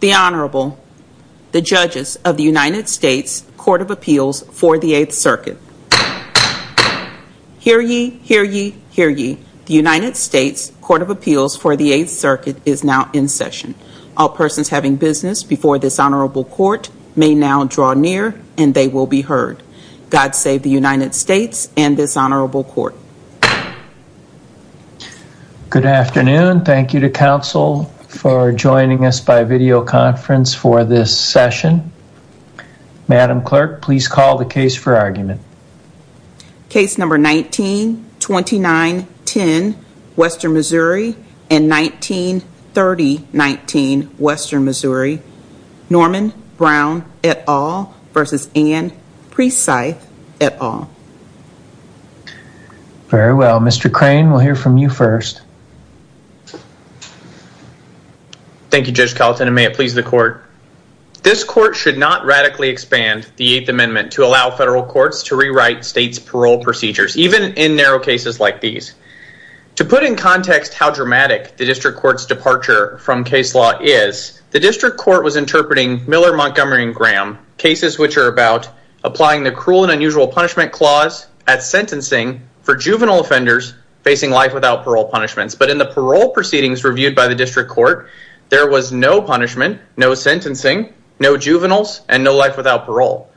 The Honorable, the Judges of the United States Court of Appeals for the 8th Circuit. Hear ye, hear ye, hear ye. The United States Court of Appeals for the 8th Circuit is now in session. All persons having business before this Honorable Court may now draw near and they will be heard. God save the United States and this Honorable Court. Good afternoon. Thank you to Council for joining us by videoconference for this session. Madam Clerk, please call the case for argument. Case number 19-29-10, Western Missouri and 19-30-19, Western Missouri. Norman Brown et al. v. Anne Precythe et al. Very well. Mr. Crane, we'll hear from you first. Thank you, Judge Carlton, and may it please the Court. This Court should not radically expand the 8th Amendment to allow federal courts to rewrite state's parole procedures, even in narrow cases like these. To put in context how dramatic the District Court's departure from case law is, the District Court was interpreting Miller, Montgomery, and Graham, cases which are about applying the cruel and unusual punishment clause at sentencing for juvenile offenders facing life without parole punishments. But in the parole proceedings reviewed by the District Court, there was no punishment, no sentencing, no juveniles, and no life without parole.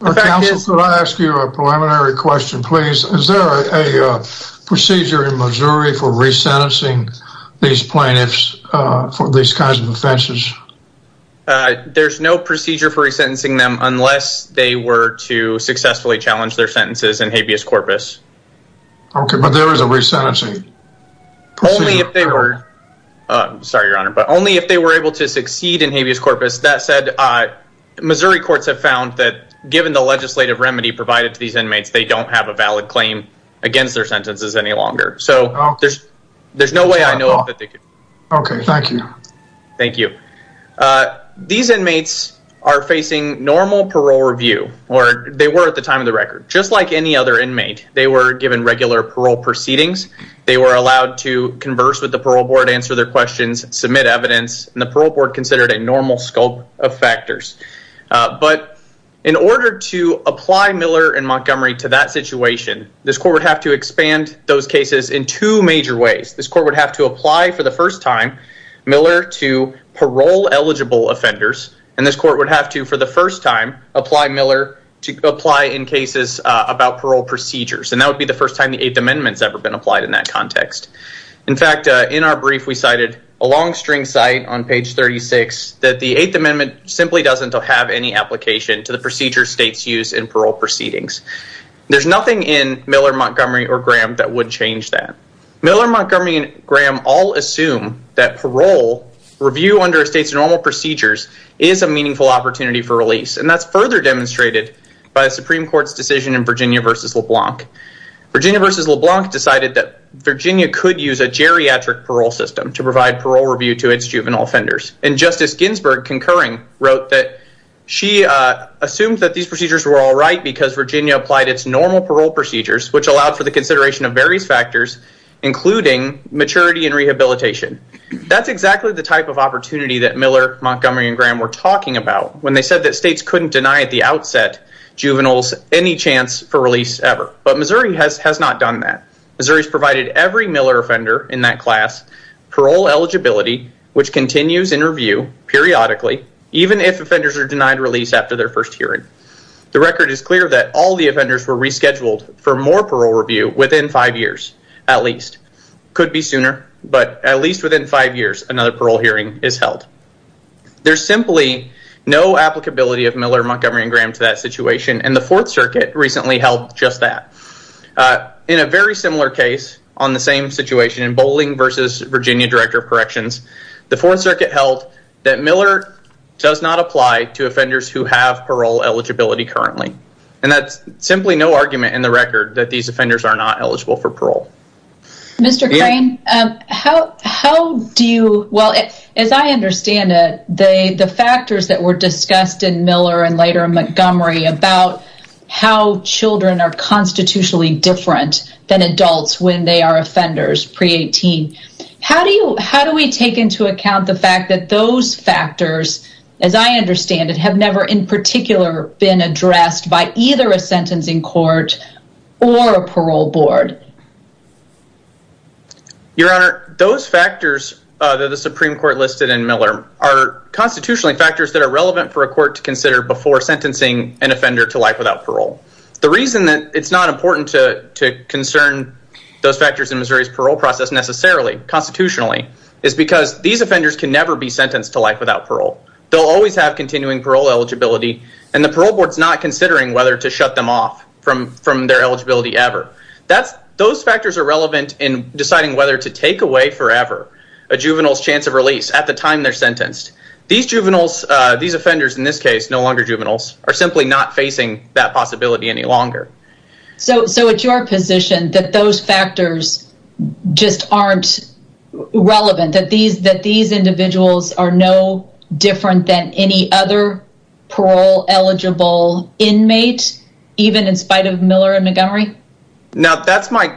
Counsel, could I ask you a preliminary question, please? Is there a procedure in Missouri for resentencing these plaintiffs for these kinds of offenses? There's no procedure for resentencing them unless they were to successfully challenge their sentences in habeas corpus. Okay, but there is a resentencing procedure. Sorry, Your Honor, but only if they were able to succeed in habeas corpus. That said, Missouri courts have found that given the legislative remedy provided to these inmates, they don't have a valid claim against their sentences any longer. So there's no way I know that they could. Okay, thank you. Thank you. These inmates are facing normal parole review, or they were at the time of the record. Just like any other inmate, they were given regular parole proceedings. They were allowed to converse with the parole board, answer their questions, submit evidence, and the parole board considered a normal scope of factors. But in order to apply Miller and Montgomery to that situation, this court would have to expand those cases in two major ways. This court would have to apply, for the first time, Miller to parole-eligible offenders, and this court would have to, for the first time, apply Miller to apply in cases about parole procedures. And that would be the first time the Eighth Amendment's ever been applied in that context. In fact, in our brief, we cited a long-string site on page 36 that the Eighth Amendment simply doesn't have any application to the procedure states use in parole proceedings. There's nothing in Miller, Montgomery, or Graham that would change that. Miller, Montgomery, and Graham all assume that parole review under a state's normal procedures is a meaningful opportunity for release, and that's further demonstrated by a Supreme Court's decision in Virginia v. LeBlanc. Virginia v. LeBlanc decided that Virginia could use a geriatric parole system to provide parole review to its juvenile offenders. And Justice Ginsburg, concurring, wrote that she assumed that these procedures were all right because Virginia applied its normal parole procedures, which allowed for the consideration of various factors, including maturity and rehabilitation. That's exactly the type of opportunity that Miller, Montgomery, and Graham were talking about when they said that states couldn't deny at the outset juveniles any chance for release ever. But Missouri has not done that. Missouri's provided every Miller offender in that class parole eligibility, which continues in review periodically, even if offenders are denied release after their first hearing. The record is clear that all the offenders were rescheduled for more parole review within five years at least. Could be sooner, but at least within five years, another parole hearing is held. There's simply no applicability of Miller, Montgomery, and Graham to that situation, and the Fourth Circuit recently held just that. In a very similar case on the same situation, in Boling v. Virginia Director of Corrections, the Fourth Circuit held that Miller does not apply to offenders who have parole eligibility currently. And that's simply no argument in the record that these offenders are not eligible for parole. Mr. Crane, as I understand it, the factors that were discussed in Miller and later Montgomery about how children are constitutionally different than adults when they are offenders pre-18, how do we take into account the fact that those factors, as I understand it, have never in particular been addressed by either a sentencing court or a parole board? Your Honor, those factors that the Supreme Court listed in Miller are constitutionally factors that are relevant for a court to consider before sentencing an offender to life without parole. The reason that it's not important to concern those factors in Missouri's parole process necessarily, constitutionally, is because these offenders can never be sentenced to life without parole. They'll always have continuing parole eligibility, and the parole board's not considering whether to shut them off from their eligibility ever. Those factors are relevant in deciding whether to take away forever a juvenile's chance of release at the time they're sentenced. These juveniles, these offenders in this case, no longer juveniles, are simply not facing that possibility any longer. So it's your position that those factors just aren't relevant, that these individuals are no different than any other parole-eligible inmate, even in spite of Miller and Montgomery? Now, that's my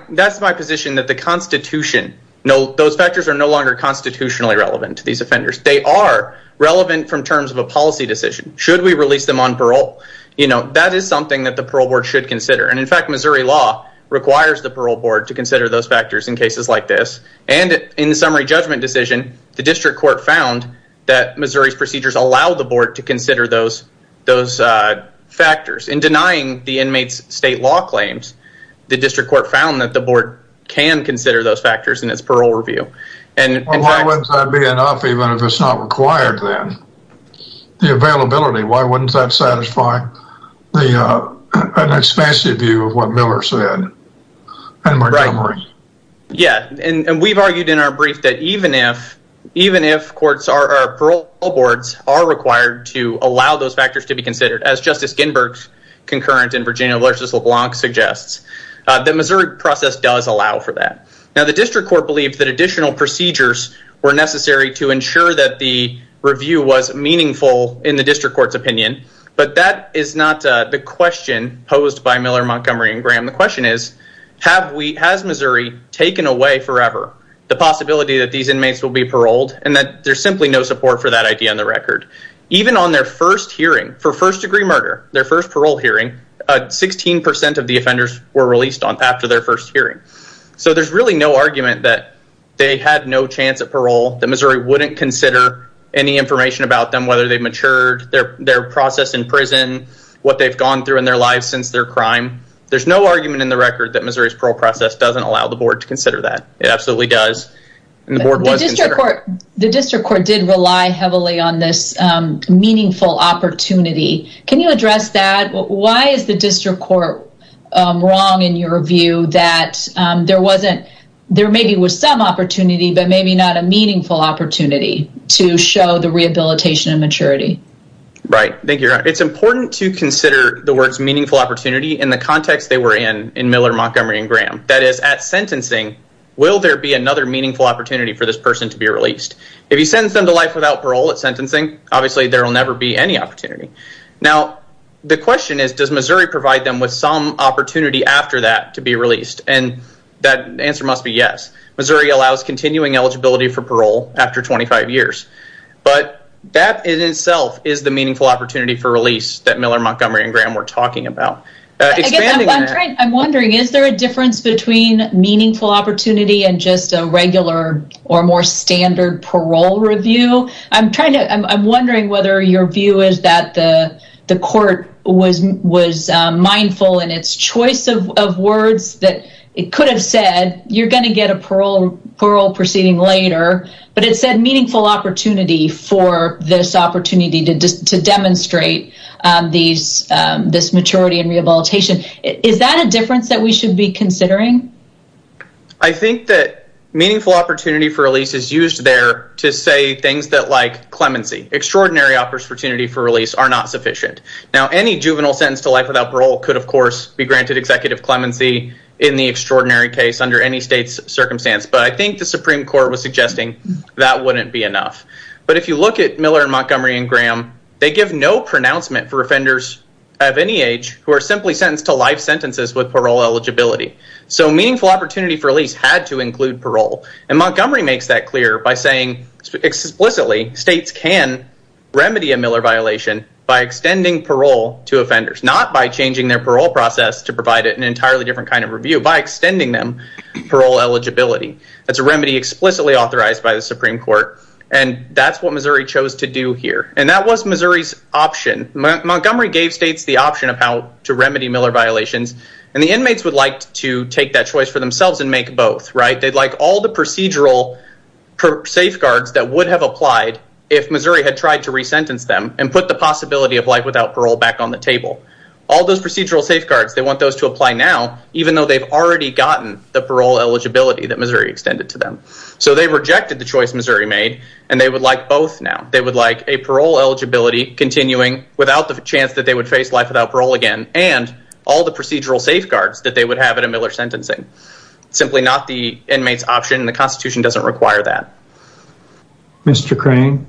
position, that the Constitution, those factors are no longer constitutionally relevant to these offenders. They are relevant from terms of a policy decision. Should we release them on parole? That is something that the parole board should consider, and in fact, Missouri law requires the parole board to consider those factors in cases like this, and in the summary judgment decision, the district court found that Missouri's procedures allow the board to consider those factors. In denying the inmates' state law claims, the district court found that the board can consider those factors in its parole review. Why wouldn't that be enough, even if it's not required then? The availability, why wouldn't that satisfy an expansive view of what Miller said and Montgomery? Yeah, and we've argued in our brief that even if courts or parole boards are required to allow those factors to be considered, as Justice Ginsburg's concurrent in Virginia versus LeBlanc suggests, the Missouri process does allow for that. Now, the district court believed that additional procedures were necessary to ensure that the review was meaningful in the district court's opinion, but that is not the question posed by Miller, Montgomery, and Graham. The question is, has Missouri taken away forever the possibility that these inmates will be paroled, and that there's simply no support for that idea on the record. Even on their first hearing for first-degree murder, their first parole hearing, 16% of the offenders were released after their first hearing. So there's really no argument that they had no chance at parole, that Missouri wouldn't consider any information about them, whether they've matured, their process in prison, what they've gone through in their lives since their crime. There's no argument in the record that Missouri's parole process doesn't allow the board to consider that. It absolutely does, and the board was considering it. The district court did rely heavily on this meaningful opportunity. Can you address that? Why is the district court wrong in your view that there maybe was some opportunity, but maybe not a meaningful opportunity to show the rehabilitation and maturity? Right. Thank you, Your Honor. It's important to consider the words meaningful opportunity in the context they were in, in Miller, Montgomery, and Graham. That is, at sentencing, will there be another meaningful opportunity for this person to be released? If you sentence them to life without parole at sentencing, obviously there will never be any opportunity. Now, the question is, does Missouri provide them with some opportunity after that to be released? And that answer must be yes. Missouri allows continuing eligibility for parole after 25 years. But that in itself is the meaningful opportunity for release that Miller, Montgomery, and Graham were talking about. Expanding on that. I'm wondering, is there a difference between meaningful opportunity and just a regular or more standard parole review? I'm wondering whether your view is that the court was mindful in its choice of words that it could have said, you're going to get a parole proceeding later, but it said meaningful opportunity for this opportunity to demonstrate this maturity and rehabilitation. Is that a difference that we should be considering? I think that meaningful opportunity for release is used there to say things like clemency. Extraordinary opportunity for release are not sufficient. Now, any juvenile sentence to life without parole could, of course, be granted executive clemency in the extraordinary case under any state's circumstance. But I think the Supreme Court was suggesting that wouldn't be enough. But if you look at Miller, Montgomery, and Graham, they give no pronouncement for offenders of any age who are simply sentenced to life sentences with parole eligibility. So meaningful opportunity for release had to include parole. And Montgomery makes that clear by saying explicitly states can remedy a Miller violation by extending parole to offenders, not by changing their parole process to provide an entirely different kind of review, by extending them parole eligibility. That's a remedy explicitly authorized by the Supreme Court. And that's what Missouri chose to do here. And that was Missouri's option. Montgomery gave states the option of how to remedy Miller violations. And the inmates would like to take that choice for themselves and make both. They'd like all the procedural safeguards that would have applied if Missouri had tried to resentence them and put the possibility of life without parole back on the table. All those procedural safeguards, they want those to apply now, even though they've already gotten the parole eligibility that Missouri extended to them. So they rejected the choice Missouri made, and they would like both now. They would like a parole eligibility continuing without the chance that they would face life without parole again, and all the procedural safeguards that they would have at a Miller sentencing. Simply not the inmates option. The Constitution doesn't require that. Mr. Crane,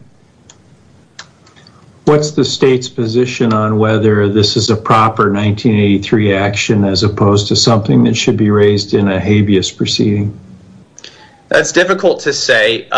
what's the state's position on whether this is a proper 1983 action as opposed to something that should be raised in a habeas proceeding? That's difficult to say.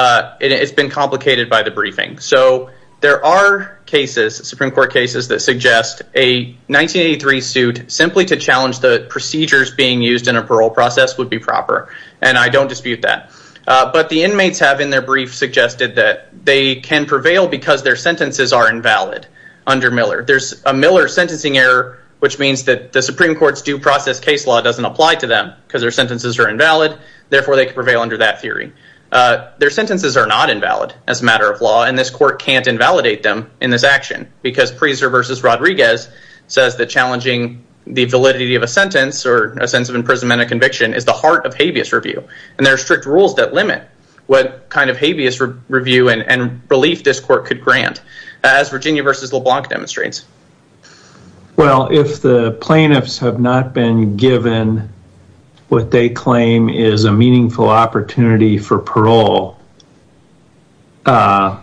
It's been complicated by the briefing. So there are cases, Supreme Court cases, that suggest a 1983 suit simply to challenge the procedures being used in a parole process would be proper, and I don't dispute that. But the inmates have in their brief suggested that they can prevail because their sentences are invalid under Miller. There's a Miller sentencing error, which means that the Supreme Court's due process case law doesn't apply to them because their sentences are invalid. Therefore, they could prevail under that theory. Their sentences are not invalid as a matter of law, and this court can't invalidate them in this action because Priester v. Rodriguez says that challenging the validity of a sentence or a sentence of imprisonment and conviction is the heart of habeas review, and there are strict rules that limit what kind of habeas review and relief this court could grant, as Virginia v. LeBlanc demonstrates. Well, if the plaintiffs have not been given what they claim is a meaningful opportunity for parole or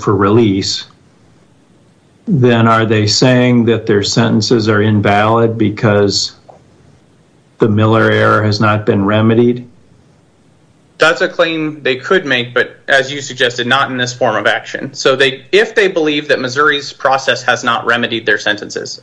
for release, then are they saying that their sentences are invalid because the Miller error has not been remedied? That's a claim they could make, but as you suggested, not in this form of action. So if they believe that Missouri's process has not remedied their sentences,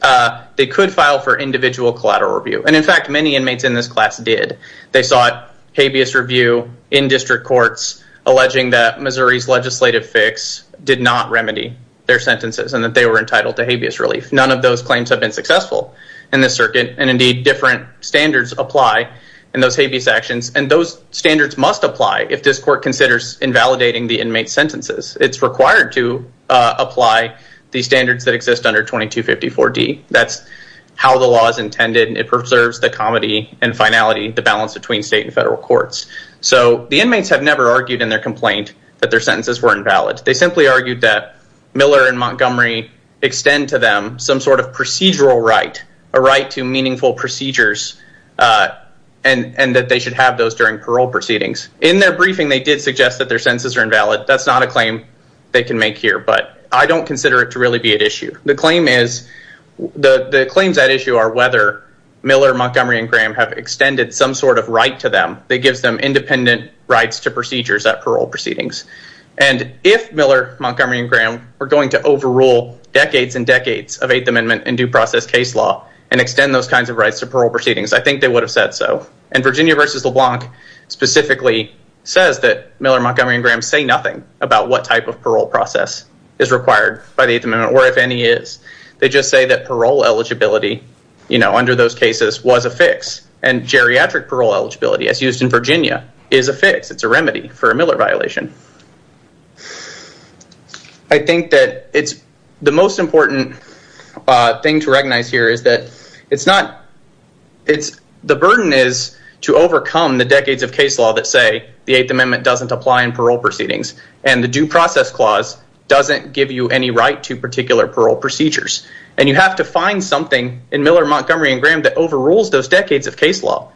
they could file for individual collateral review. And in fact, many inmates in this class did. They sought habeas review in district courts, alleging that Missouri's legislative fix did not remedy their sentences and that they were entitled to habeas relief. None of those claims have been successful in this circuit, and indeed, different standards apply in those habeas actions, and those standards must apply if this court considers invalidating the inmates' sentences. It's required to apply the standards that exist under 2254D. That's how the law is intended, and it preserves the comity and finality, the balance between state and federal courts. So the inmates have never argued in their complaint that their sentences were invalid. They simply argued that Miller and Montgomery extend to them some sort of procedural right, a right to meaningful procedures, and that they should have those during parole proceedings. In their briefing, they did suggest that their sentences are invalid. That's not a claim they can make here, but I don't consider it to really be at issue. The claims at issue are whether Miller, Montgomery, and Graham have extended some sort of right to them that gives them independent rights to procedures at parole proceedings. And if Miller, Montgomery, and Graham were going to overrule decades and decades of Eighth Amendment and due process case law and extend those kinds of rights to parole proceedings, I think they would have said so. And Virginia v. LeBlanc specifically says that Miller, Montgomery, and Graham say nothing about what type of parole process is required by the Eighth Amendment, or if any is. They just say that parole eligibility under those cases was a fix, and geriatric parole eligibility, as used in Virginia, is a fix. It's a remedy for a Miller violation. I think that the most important thing to recognize here is that the burden is to overcome the decades of case law that say the Eighth Amendment doesn't apply in parole proceedings and the due process clause doesn't give you any right to particular parole procedures. And you have to find something in Miller, Montgomery, and Graham that overrules those decades of case law.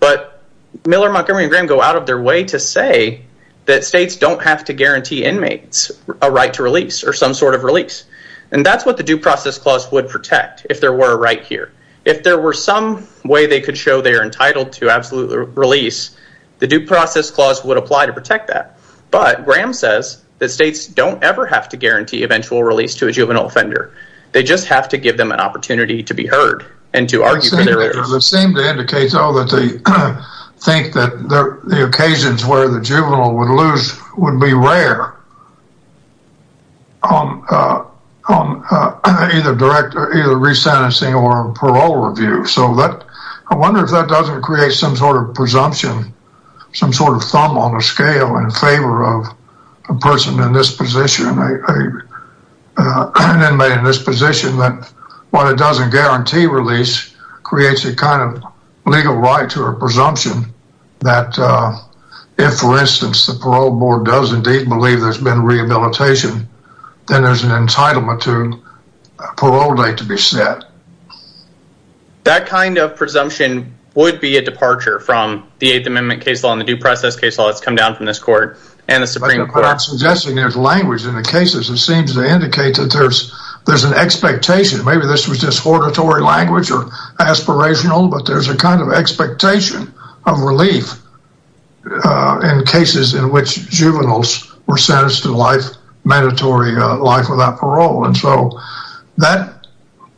But Miller, Montgomery, and Graham go out of their way to say that states don't have to guarantee inmates a right to release or some sort of release. And that's what the due process clause would protect if there were a right here. If there were some way they could show they are entitled to absolute release, the due process clause would apply to protect that. But Graham says that states don't ever have to guarantee eventual release to a juvenile offender. They just have to give them an opportunity to be heard and to argue for their rights. It seems to indicate that they think that the occasions where the juvenile would lose would be rare on either resentencing or parole review. I wonder if that doesn't create some sort of presumption, some sort of thumb on the scale in favor of a person in this position, an inmate in this position, that what it doesn't guarantee release creates a kind of legal right to a presumption that if, for instance, the Parole Board does indeed believe there's been rehabilitation, then there's an entitlement to a parole date to be set. That kind of presumption would be a departure from the Eighth Amendment case law and the due process case law that's come down from this court and the Supreme Court. I'm suggesting there's language in the cases. It seems to indicate that there's an expectation. Maybe this was just hortatory language or aspirational, but there's a kind of expectation of relief in cases in which juveniles were sentenced to life, mandatory life without parole.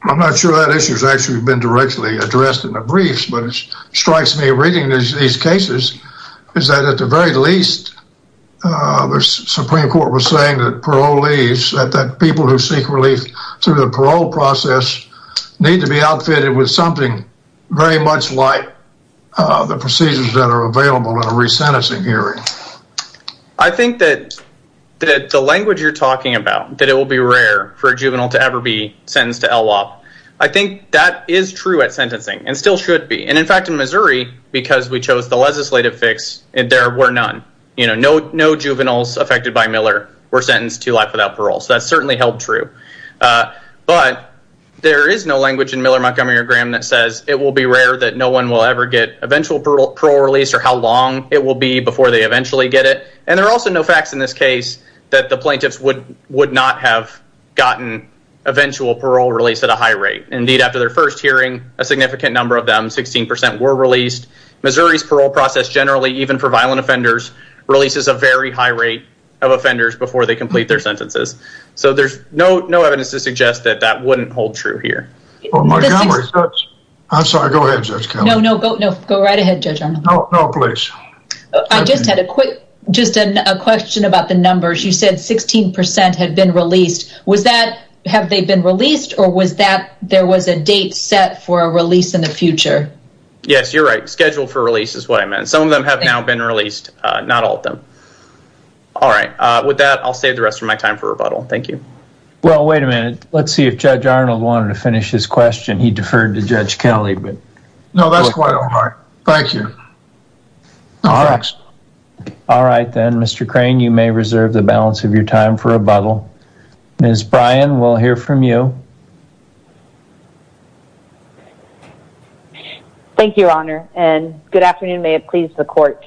I'm not sure that issue has actually been directly addressed in the briefs, but it strikes me reading these cases is that at the very least, the Supreme Court was saying that parole leaves, that people who seek relief through the parole process need to be outfitted with something very much like the procedures that are available in a resentencing hearing. I think that the language you're talking about, that it will be rare for a juvenile to ever be sentenced to LWOP, I think that is true at sentencing and still should be. In fact, in Missouri, because we chose the legislative fix, there were none. No juveniles affected by Miller were sentenced to life without parole, so that's certainly held true. But there is no language in Miller, Montgomery, or Graham that says it will be rare that no one will ever get eventual parole release or how long it will be before they eventually get it. And there are also no facts in this case that the plaintiffs would not have gotten eventual parole release at a high rate. Indeed, after their first hearing, a significant number of them, 16% were released. Missouri's parole process generally, even for violent offenders, releases a very high rate of offenders before they complete their sentences. So there's no evidence to suggest that that wouldn't hold true here. I'm sorry, go ahead, Judge Kelly. No, no, go right ahead, Judge Arnold. No, please. I just had a quick, just a question about the numbers. You said 16% had been released. Was that, have they been released, or was that there was a date set for a release in the future? Yes, you're right. Schedule for release is what I meant. Some of them have now been released, not all of them. All right. With that, I'll save the rest of my time for rebuttal. Thank you. Well, wait a minute. Let's see if Judge Arnold wanted to finish his question. He deferred to Judge Kelly. No, that's quite all right. Thank you. All right. All right, then, Mr. Crane, you may reserve the balance of your time for rebuttal. Ms. Bryan, we'll hear from you. Thank you, Your Honor, and good afternoon. May it please the court.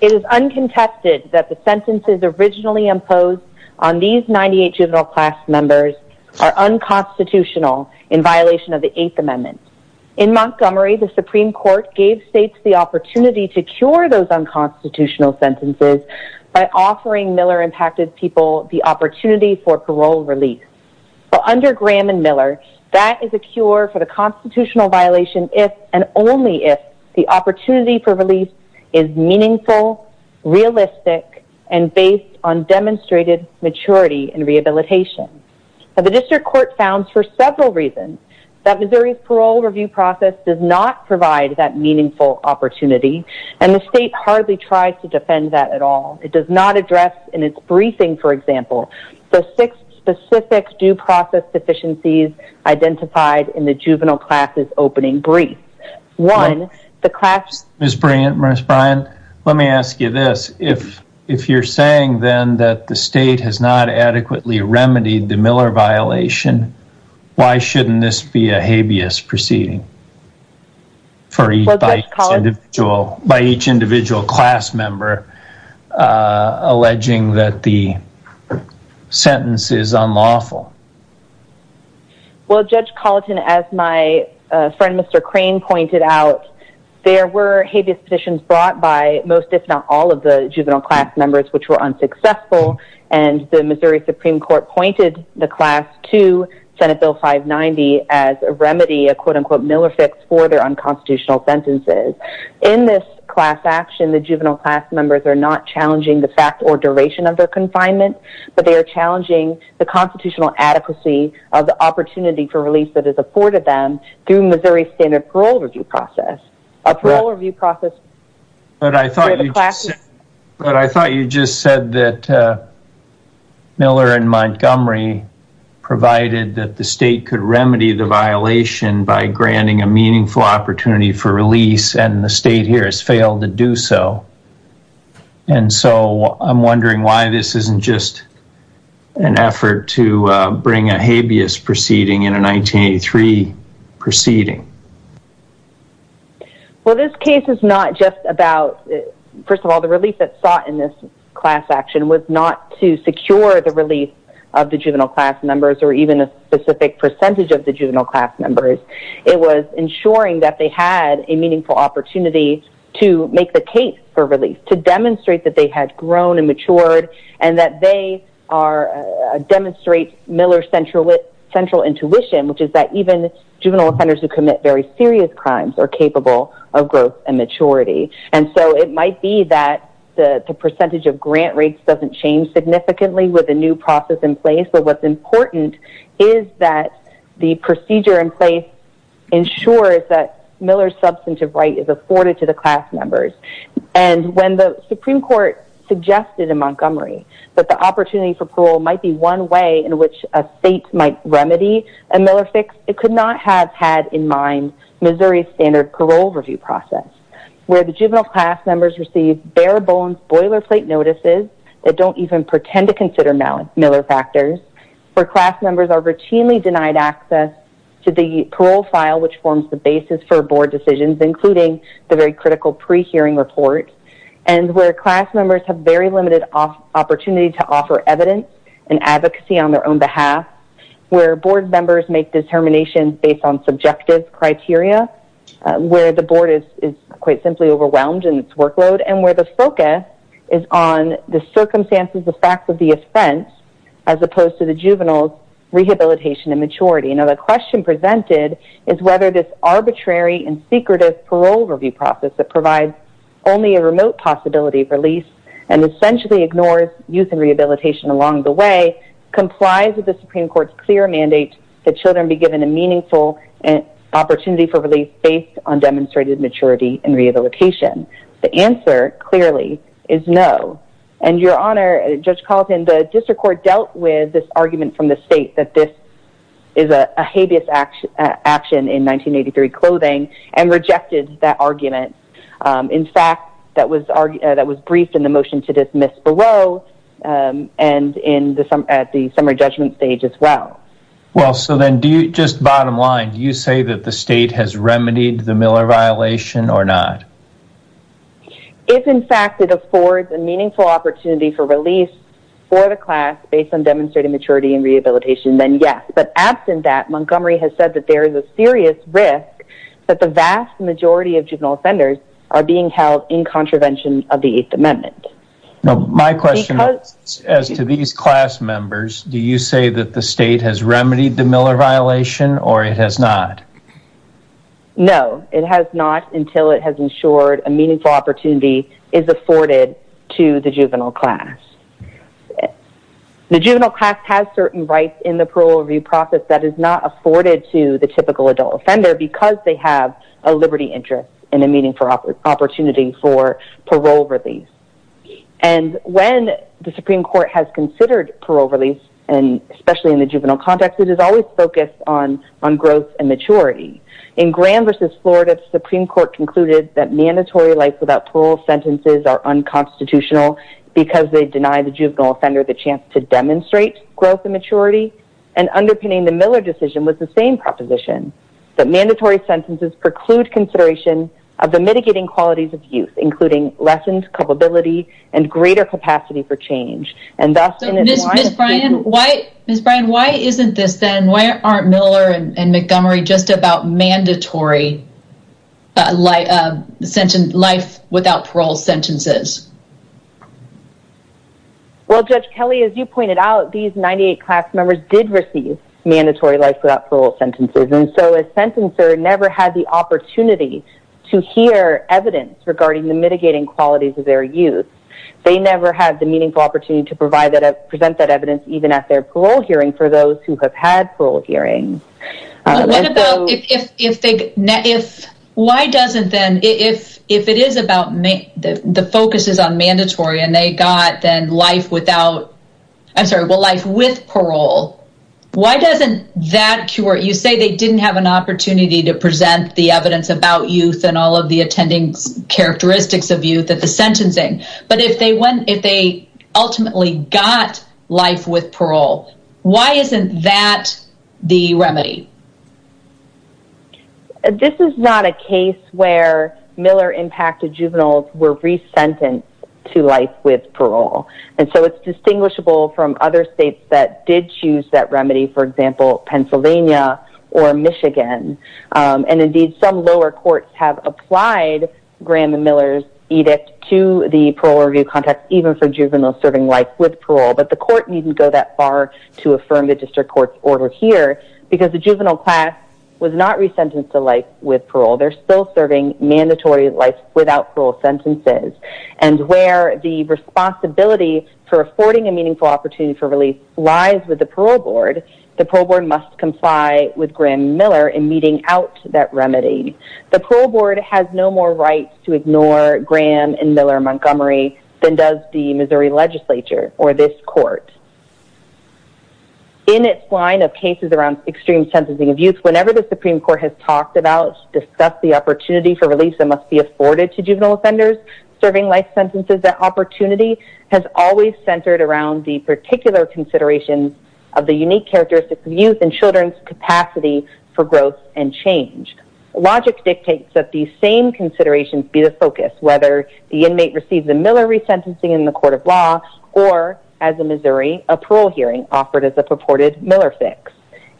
It is uncontested that the sentences originally imposed on these 98 juvenile class members are unconstitutional in violation of the Eighth Amendment. In Montgomery, the Supreme Court gave states the opportunity to cure those unconstitutional sentences by offering Miller-impacted people the opportunity for parole release. Under Graham and Miller, that is a cure for the constitutional violation if and only if the opportunity for release is meaningful, realistic, and based on demonstrated maturity and rehabilitation. The district court found for several reasons that Missouri's parole review process does not provide that meaningful opportunity, and the state hardly tries to defend that at all. It does not address in its briefing, for example, the six specific due process deficiencies identified in the juvenile classes opening brief. Ms. Bryan, let me ask you this. If you're saying, then, that the state has not adequately remedied the Miller violation, why shouldn't this be a habeas proceeding by each individual class member alleging that the sentence is unlawful? Well, Judge Colleton, as my friend Mr. Crane pointed out, there were habeas petitions brought by most, if not all, of the juvenile class members which were unsuccessful, and the Missouri Supreme Court pointed the class to Senate Bill 590 as a remedy, a quote-unquote Miller fix for their unconstitutional sentences. In this class action, the juvenile class members are not challenging the fact or duration of their confinement, but they are challenging the constitutional adequacy of the opportunity for release that is afforded them through Missouri's standard parole review process. But I thought you just said that Miller and Montgomery provided that the state could remedy the violation by granting a meaningful opportunity for release, and the state here has failed to do so. And so I'm wondering why this isn't just an effort to bring a habeas proceeding in a 1983 proceeding. Well, this case is not just about, first of all, the relief that's sought in this class action was not to secure the relief of the juvenile class members or even a specific percentage of the juvenile class members. It was ensuring that they had a meaningful opportunity to make the case for release, to demonstrate that they had grown and matured, and that they demonstrate Miller's central intuition, which is that even juvenile offenders who commit very serious crimes are capable of growth and maturity. And so it might be that the percentage of grant rates doesn't change significantly with a new process in place, but what's important is that the procedure in place ensures that Miller's substantive right is afforded to the class members. And when the Supreme Court suggested in Montgomery that the opportunity for parole might be one way in which a state might remedy a Miller fix, it could not have had in mind Missouri's standard parole review process, where the juvenile class members receive bare-bones boilerplate notices that don't even pretend to consider Miller factors, where class members are routinely denied access to the parole file, which forms the basis for board decisions, including the very critical pre-hearing report, and where class members have very limited opportunity to offer evidence and advocacy on their own behalf, where board members make determinations based on subjective criteria, where the board is quite simply overwhelmed in its workload, and where the focus is on the circumstances, the facts of the offense, as opposed to the juvenile's rehabilitation and maturity. Now, the question presented is whether this arbitrary and secretive parole review process that provides only a remote possibility of release and essentially ignores youth and rehabilitation along the way complies with the Supreme Court's clear mandate that children be given a meaningful opportunity for release based on demonstrated maturity and rehabilitation. The answer, clearly, is no. And, Your Honor, Judge Carlton, the district court dealt with this argument from the state that this is a habeas action in 1983 clothing and rejected that argument. In fact, that was briefed in the motion to dismiss below and at the summary judgment stage as well. Well, so then, just bottom line, do you say that the state has remedied the Miller violation or not? If, in fact, it affords a meaningful opportunity for release for the class based on demonstrated maturity and rehabilitation, then yes. But, absent that, Montgomery has said that there is a serious risk that the vast majority of juvenile offenders are being held in contravention of the Eighth Amendment. Now, my question is, as to these class members, do you say that the state has remedied the Miller violation or it has not? No, it has not until it has ensured a meaningful opportunity is afforded to the juvenile class. The juvenile class has certain rights in the parole review process that is not afforded to the typical adult offender because they have a liberty interest and a meaningful opportunity for parole release. And, when the Supreme Court has considered parole release, especially in the juvenile context, it has always focused on growth and maturity. In Graham v. Florida, the Supreme Court concluded that mandatory life without parole sentences are unconstitutional because they deny the juvenile offender the chance to demonstrate growth and maturity. And, underpinning the Miller decision was the same proposition, that mandatory sentences preclude consideration of the mitigating qualities of youth, including lessened culpability and greater capacity for change. Ms. Bryan, why isn't this then, why aren't Miller and Montgomery just about mandatory life without parole sentences? Well, Judge Kelly, as you pointed out, these 98 class members did receive mandatory life without parole sentences. And so, a sentencer never had the opportunity to hear evidence regarding the mitigating qualities of their youth. They never had the meaningful opportunity to present that evidence even at their parole hearing for those who have had parole hearings. What about if they, why doesn't then, if it is about, the focus is on mandatory and they got then life without, I'm sorry, well, life with parole, why doesn't that cure it? You say they didn't have an opportunity to present the evidence about youth and all of the attending characteristics of youth at the sentencing. But, if they ultimately got life with parole, why isn't that the remedy? This is not a case where Miller-impacted juveniles were resentenced to life with parole. And so, it's distinguishable from other states that did choose that remedy, for example, Pennsylvania or Michigan. And indeed, some lower courts have applied Graham and Miller's edict to the parole review context, even for juveniles serving life with parole. But, the court needn't go that far to affirm the district court's order here, because the juvenile class was not resentenced to life with parole. They're still serving mandatory life without parole sentences. And where the responsibility for affording a meaningful opportunity for release lies with the parole board, the parole board must comply with Graham and Miller in meeting out that remedy. The parole board has no more rights to ignore Graham and Miller Montgomery than does the Missouri legislature or this court. In its line of cases around extreme sentencing of youth, whenever the Supreme Court has talked about, discussed the opportunity for release that must be afforded to juvenile offenders, serving life sentences, that opportunity has always centered around the particular consideration of the unique characteristics of youth and children's capacity for growth and change. Logic dictates that these same considerations be the focus, whether the inmate receives a Miller resentencing in the court of law or, as in Missouri, a parole hearing offered as a purported Miller fix.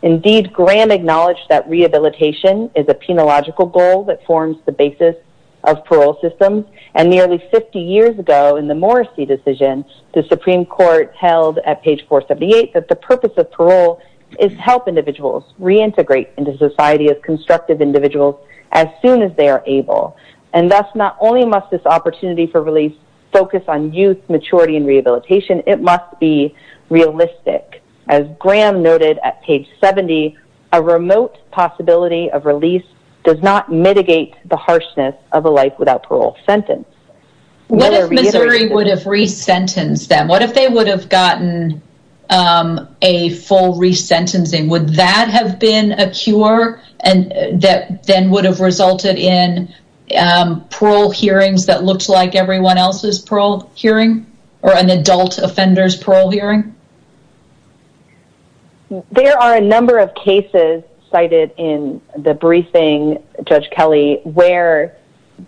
Indeed, Graham acknowledged that rehabilitation is a penological goal that forms the basis of parole systems. And nearly 50 years ago in the Morrissey decision, the Supreme Court held at page 478 that the purpose of parole is to help individuals reintegrate into society as constructive individuals as soon as they are able. And thus, not only must this opportunity for release focus on youth maturity and rehabilitation, it must be realistic. As Graham noted at page 70, a remote possibility of release does not mitigate the harshness of a life without parole sentence. What if Missouri would have resentenced them? What if they would have gotten a full resentencing? Would that have been a cure? And that then would have resulted in parole hearings that looked like everyone else's parole hearing or an adult offender's parole hearing? There are a number of cases cited in the briefing, Judge Kelly, where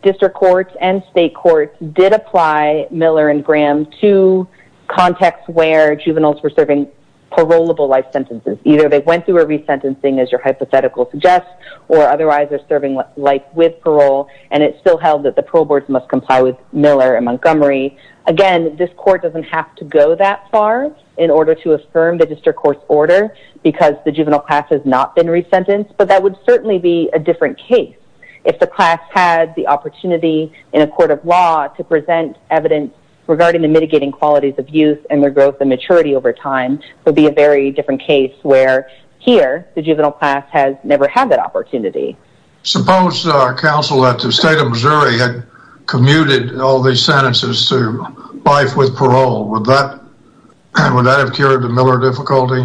district courts and state courts did apply Miller and Graham to context where juveniles were serving parolable life sentences. Either they went through a resentencing, as your hypothetical suggests, or otherwise they're serving life with parole, and it's still held that the parole boards must comply with Miller and Montgomery. Again, this court doesn't have to go that far in order to affirm the district court's order because the juvenile class has not been resentenced, but that would certainly be a different case. If the class had the opportunity in a court of law to present evidence regarding the mitigating qualities of youth and their growth and maturity over time, it would be a very different case where here, the juvenile class has never had that opportunity. Suppose, counsel, that the state of Missouri had commuted all these sentences to life with parole. Would that have cured the Miller difficulty?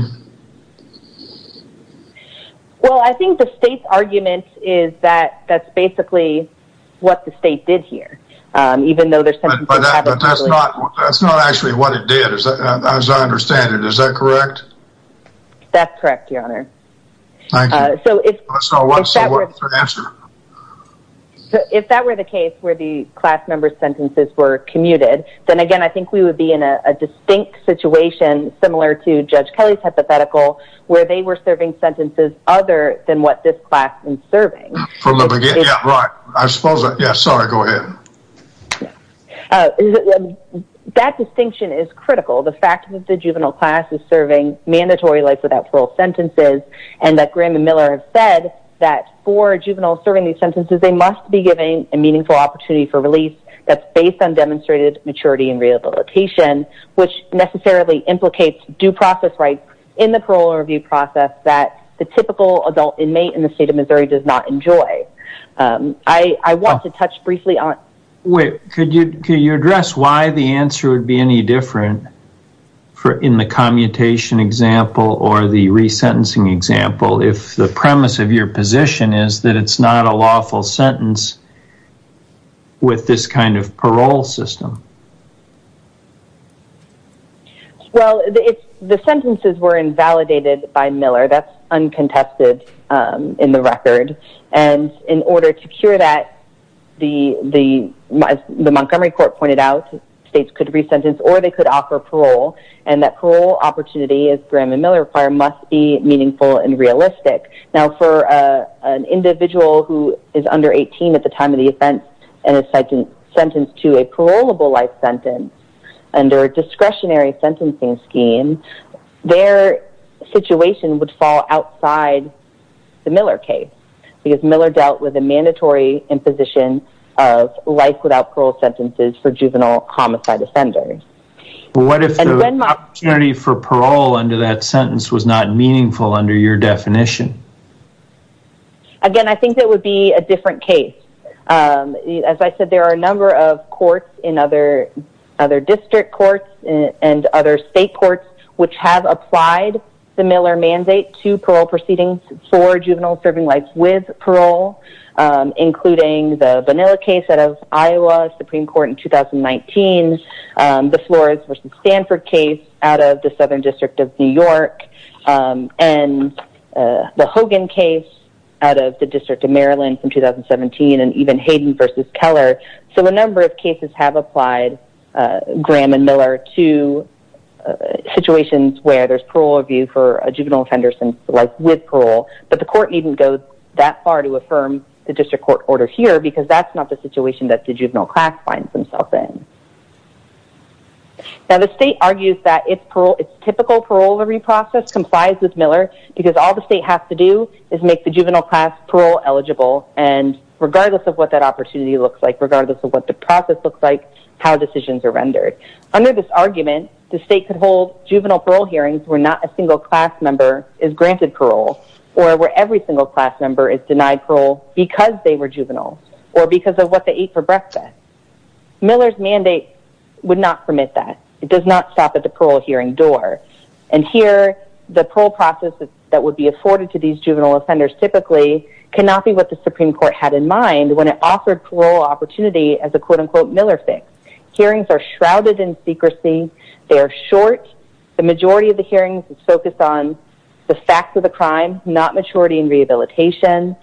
Well, I think the state's argument is that that's basically what the state did here. But that's not actually what it did, as I understand it. Is that correct? That's correct, your honor. Thank you. If that were the case where the class member's sentences were commuted, then again, I think we would be in a distinct situation, similar to Judge Kelly's hypothetical, where they were serving sentences other than what this class is serving. From the beginning, yeah, right. I suppose, yeah, sorry, go ahead. That distinction is critical. The fact that the juvenile class is serving mandatory life without parole sentences, and that Graham and Miller have said that for juveniles serving these sentences, they must be given a meaningful opportunity for release that's based on demonstrated maturity and rehabilitation, which necessarily implicates due process rights in the parole review process that the typical adult inmate in the state of Missouri does not enjoy. I want to touch briefly on... Wait, could you address why the answer would be any different in the commutation example or the resentencing example if the premise of your position is that it's not a lawful sentence with this kind of parole system? Well, the sentences were invalidated by Miller. That's uncontested in the record. And in order to cure that, as the Montgomery Court pointed out, states could be sentenced or they could offer parole. And that parole opportunity, as Graham and Miller require, must be meaningful and realistic. Now, for an individual who is under 18 at the time of the offense and is sentenced to a parolable life sentence under a discretionary sentencing scheme, their situation would fall outside the Miller case because Miller dealt with a mandatory imposition of life without parole sentences for juvenile homicide offenders. What if the opportunity for parole under that sentence was not meaningful under your definition? Again, I think that would be a different case. As I said, there are a number of courts in other district courts and other state courts which have applied the Miller mandate to parole proceedings for juveniles serving life with parole, including the Bonilla case out of Iowa Supreme Court in 2019, the Flores v. Stanford case out of the Southern District of New York, and the Hogan case out of the District of Maryland in 2017. And even Hayden v. Keller. So a number of cases have applied Graham and Miller to situations where there's parole review for a juvenile offender sentenced to life with parole. But the court needn't go that far to affirm the district court order here because that's not the situation that the juvenile class finds themselves in. Now the state argues that its typical parole process complies with Miller because all the state has to do is make the juvenile class parole eligible and regardless of what that opportunity looks like, regardless of what the process looks like, how decisions are rendered. Under this argument, the state could hold juvenile parole hearings where not a single class member is granted parole or where every single class member is denied parole because they were juvenile or because of what they ate for breakfast. Miller's mandate would not permit that. It does not stop at the parole hearing door. And here the parole process that would be afforded to these juvenile offenders typically cannot be what the Supreme Court had in mind when it offered parole opportunity as a quote-unquote Miller fix. Hearings are shrouded in secrecy. They are short. The majority of the hearings is focused on the facts of the crime, not maturity and rehabilitation.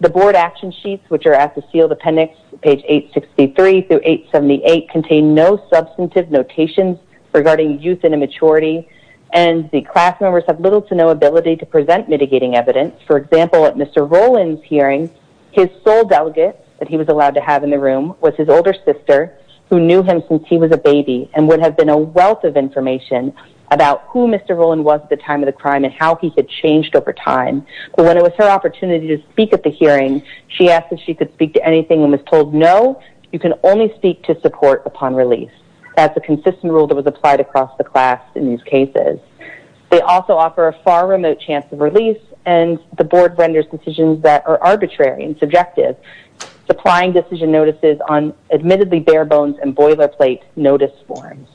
The board action sheets, which are at the sealed appendix, page 863 through 878, contain no substantive notations regarding youth and immaturity, and the class members have little to no ability to present mitigating evidence. For example, at Mr. Rowland's hearing, his sole delegate that he was allowed to have in the room was his older sister who knew him since he was a baby and would have been a wealth of information about who Mr. Rowland was at the time of the crime and how he had changed over time. But when it was her opportunity to speak at the hearing, she asked if she could speak to anything and was told, no, you can only speak to support upon release. That's a consistent rule that was applied across the class in these cases. They also offer a far remote chance of release, and the board renders decisions that are arbitrary and subjective, supplying decision notices on admittedly bare bones and boilerplate notice forms.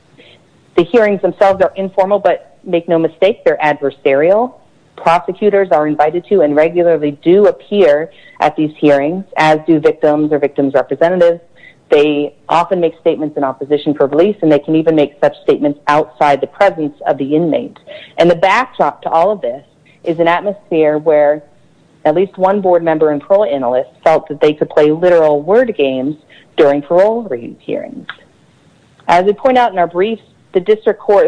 The hearings themselves are informal, but make no mistake, they're adversarial. Prosecutors are invited to and regularly do appear at these hearings, as do victims or victims' representatives. They often make statements in opposition for release, and they can even make such statements outside the presence of the inmate. And the backdrop to all of this is an atmosphere where at least one board member and parole analyst felt that they could play literal word games during parole hearings. As we point out in our briefs, the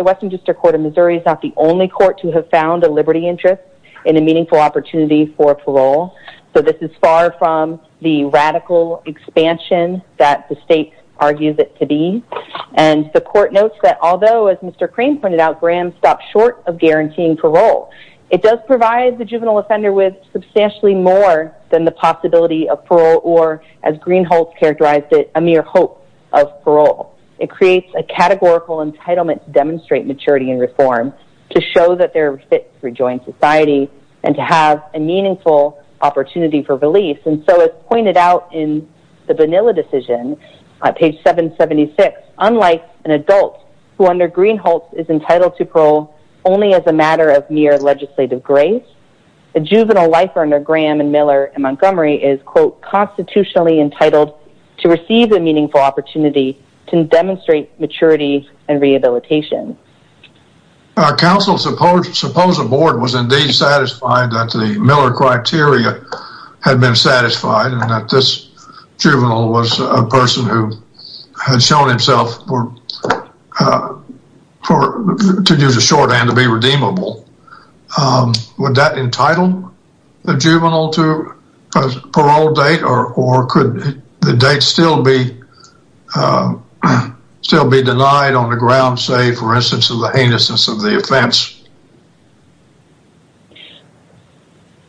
Western District Court of Missouri is not the only court to have found a liberty interest in a meaningful opportunity for parole. So this is far from the radical expansion that the state argues it to be. And the court notes that although, as Mr. Crane pointed out, Graham stopped short of guaranteeing parole, it does provide the juvenile offender with substantially more than the possibility of parole or, as Greenholz characterized it, a mere hope of parole. It creates a categorical entitlement to demonstrate maturity and reform, to show that they're fit to rejoin society, and to have a meaningful opportunity for release. And so, as pointed out in the Bonilla decision, page 776, unlike an adult who under Greenholz is entitled to parole only as a matter of mere legislative grace, a juvenile lifer under Graham and Miller in Montgomery is, quote, constitutionally entitled to receive a meaningful opportunity to demonstrate maturity and rehabilitation. Counsel, suppose a board was indeed satisfied that the Miller criteria had been satisfied and that this juvenile was a person who had shown himself to use a shorthand to be redeemable. Would that entitle the juvenile to a parole date? Or could the date still be denied on the grounds, say, for instance, of the heinousness of the offense?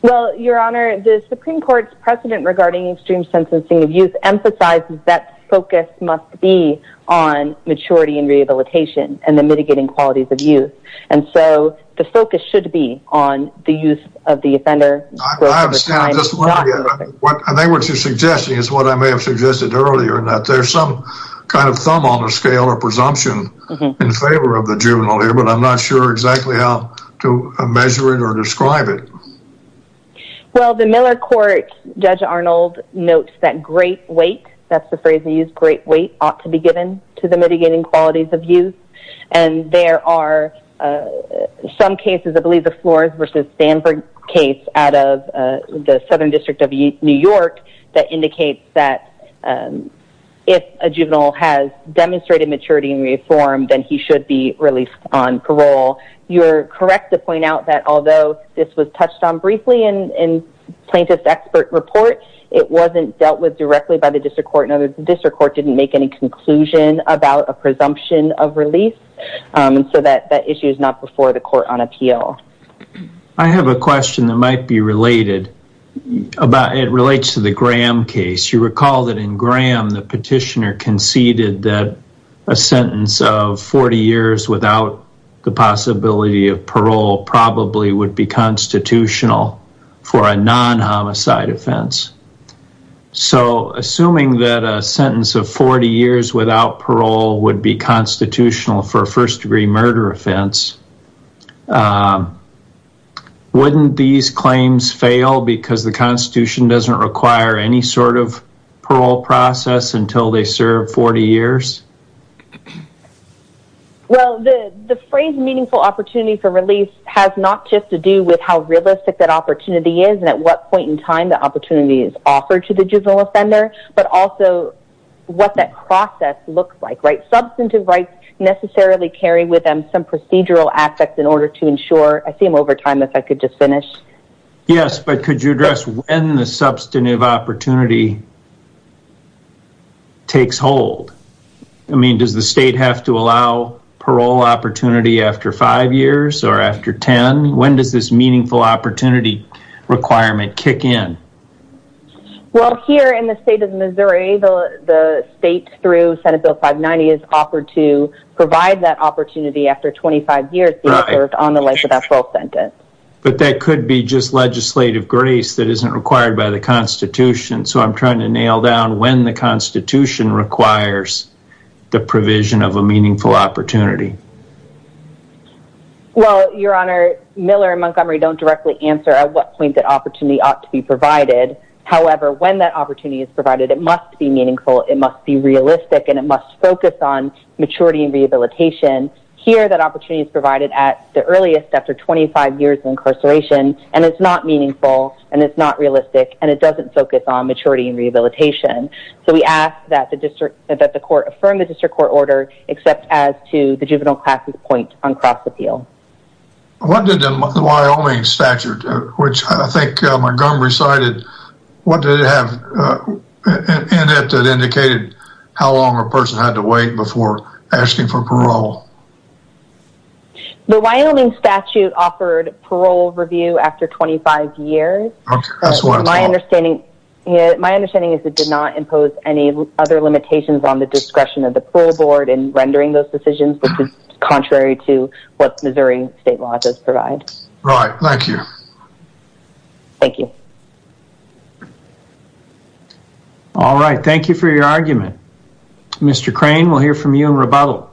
Well, Your Honor, the Supreme Court's precedent regarding extreme sentencing of youth emphasizes that focus must be on maturity and rehabilitation and the mitigating qualities of youth. And so, the focus should be on the use of the offender. I think what you're suggesting is what I may have suggested earlier, that there's some kind of thumb on the scale or presumption in favor of the juvenile here, but I'm not sure exactly how to measure it or describe it. Well, the Miller court, Judge Arnold, notes that great weight, that's the phrase they use, great weight, ought to be given to the mitigating qualities of youth. And there are some cases, I believe the Flores v. Stanford case out of the Southern District of New York, that indicates that if a juvenile has demonstrated maturity and reform, then he should be released on parole. You're correct to point out that although this was touched on briefly in plaintiff's expert report, it wasn't dealt with directly by the district court and the district court didn't make any conclusion about a presumption of release. So, that issue is not before the court on appeal. I have a question that might be related. It relates to the Graham case. You recall that in Graham, the petitioner conceded that a sentence of 40 years without the possibility of parole probably would be constitutional for a non-homicide offense. So, assuming that a sentence of 40 years without parole would be constitutional for a first-degree murder offense, wouldn't these claims fail because the Constitution doesn't require any sort of parole process until they serve 40 years? Well, the phrase meaningful opportunity for release has not just to do with how realistic that opportunity is and at what point in time the opportunity is offered to the juvenile offender, but also what that process looks like. Substantive rights necessarily carry with them some procedural aspects in order to ensure... I see I'm over time, if I could just finish. Yes, but could you address when the substantive opportunity takes hold? I mean, does the state have to allow parole opportunity after 5 years or after 10? When does this meaningful opportunity requirement kick in? Well, here in the state of Missouri, the state through Senate Bill 590 is offered to provide that opportunity after 25 years being served on the length of that parole sentence. But that could be just legislative grace that isn't required by the Constitution. So I'm trying to nail down when the Constitution requires the provision of a meaningful opportunity. Well, Your Honor, Miller and Montgomery don't directly answer at what point that opportunity ought to be provided. However, when that opportunity is provided, it must be meaningful, it must be realistic, and it must focus on maturity and rehabilitation. Here, that opportunity is provided at the earliest, after 25 years of incarceration, and it's not meaningful, and it's not realistic, and it doesn't focus on maturity and rehabilitation. So we ask that the court affirm the district court order, except as to the juvenile class point on cross-appeal. What did the Wyoming statute, which I think Montgomery cited, what did it have in it that indicated how long a person had to wait before asking for parole? The Wyoming statute offered parole review after 25 years. Okay, that's what it's called. My understanding is it did not impose any other limitations on the discretion of the parole board in rendering those decisions, which is contrary to what Missouri state law does provide. Right, thank you. Thank you. All right, thank you for your argument. Mr. Crane, we'll hear from you in rebuttal.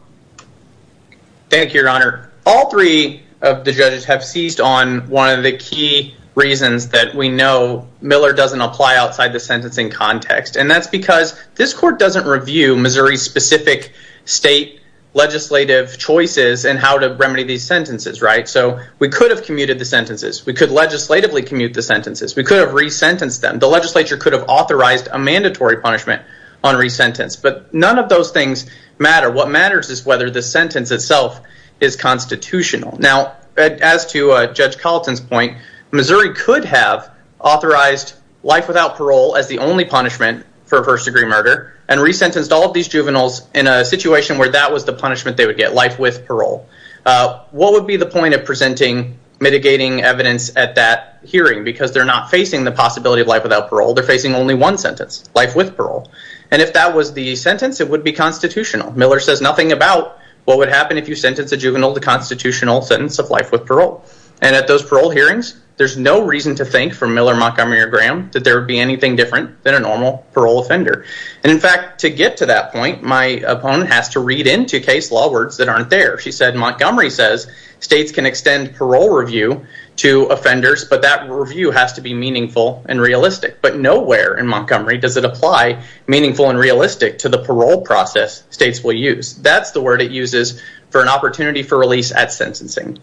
Thank you, Your Honor. All three of the judges have seized on one of the key reasons that we know Miller doesn't apply outside the sentencing context, and that's because this court doesn't review Missouri's specific state legislative choices and how to remedy these sentences, right? So we could have commuted the sentences. We could legislatively commute the sentences. We could have re-sentenced them. The legislature could have authorized a mandatory punishment on re-sentence, but none of those things matter. What matters is whether the sentence itself is constitutional. Now, as to Judge Carlton's point, Missouri could have authorized life without parole as the only punishment for a first-degree murder and re-sentenced all of these juveniles in a situation where that was the punishment they would get, life with parole. What would be the point of presenting mitigating evidence at that hearing? Because they're not facing the possibility of life without parole. They're facing only one sentence, life with parole. And if that was the sentence, it would be constitutional. Miller says nothing about what would happen if you sentenced a juvenile to constitutional sentence of life with parole. And at those parole hearings, there's no reason to think, from Miller, Montgomery, or Graham, that there would be anything different than a normal parole offender. And, in fact, to get to that point, my opponent has to read into case law words that aren't there. She said Montgomery says states can extend parole review to offenders, but that review has to be meaningful and realistic. But nowhere in Montgomery does it apply meaningful and realistic to the parole process states will use. That's the word it uses for an opportunity for release at sentencing.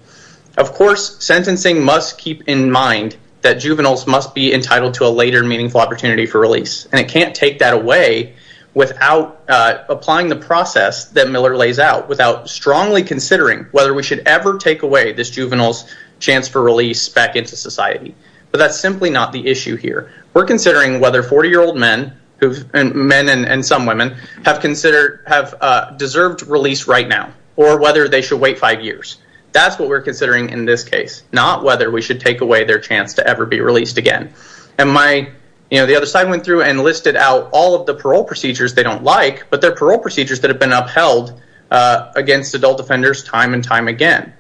Of course, sentencing must keep in mind that juveniles must be entitled to a later meaningful opportunity for release. And it can't take that away without applying the process that Miller lays out, without strongly considering whether we should ever take away this juvenile's chance for release back into society. But that's simply not the issue here. We're considering whether 40-year-old men and some women have deserved release right now, or whether they should wait five years. That's what we're considering in this case, not whether we should take away their chance to ever be released again. And the other side went through and listed out all of the parole procedures they don't like, but they're parole procedures that have been upheld against adult offenders time and time again.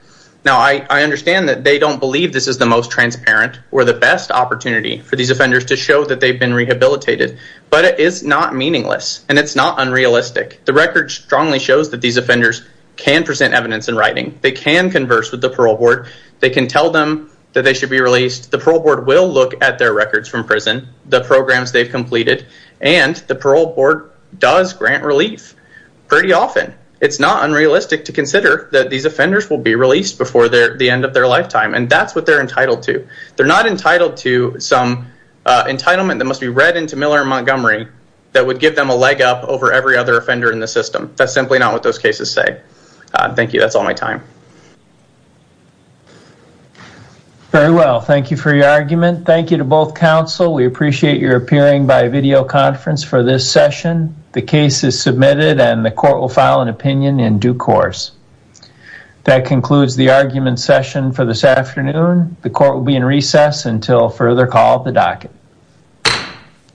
Now, I understand that they don't believe this is the most transparent or the best opportunity for these offenders to show that they've been rehabilitated, but it is not meaningless and it's not unrealistic. The record strongly shows that these offenders can present evidence in writing. They can converse with the parole board. They can tell them that they should be released. The parole board will look at their records from prison, the programs they've completed, and the parole board does grant relief pretty often. It's not unrealistic to consider that these offenders will be released before the end of their lifetime, and that's what they're entitled to. They're not entitled to some entitlement that must be read into Miller and Montgomery that would give them a leg up over every other offender in the system. That's simply not what those cases say. Thank you. That's all my time. Very well. Thank you for your argument. Thank you to both counsel. We appreciate your appearing by video conference for this session. The case is submitted and the court will file an opinion in due course. That concludes the argument session for this afternoon. The court will be in recess until further call at the docket.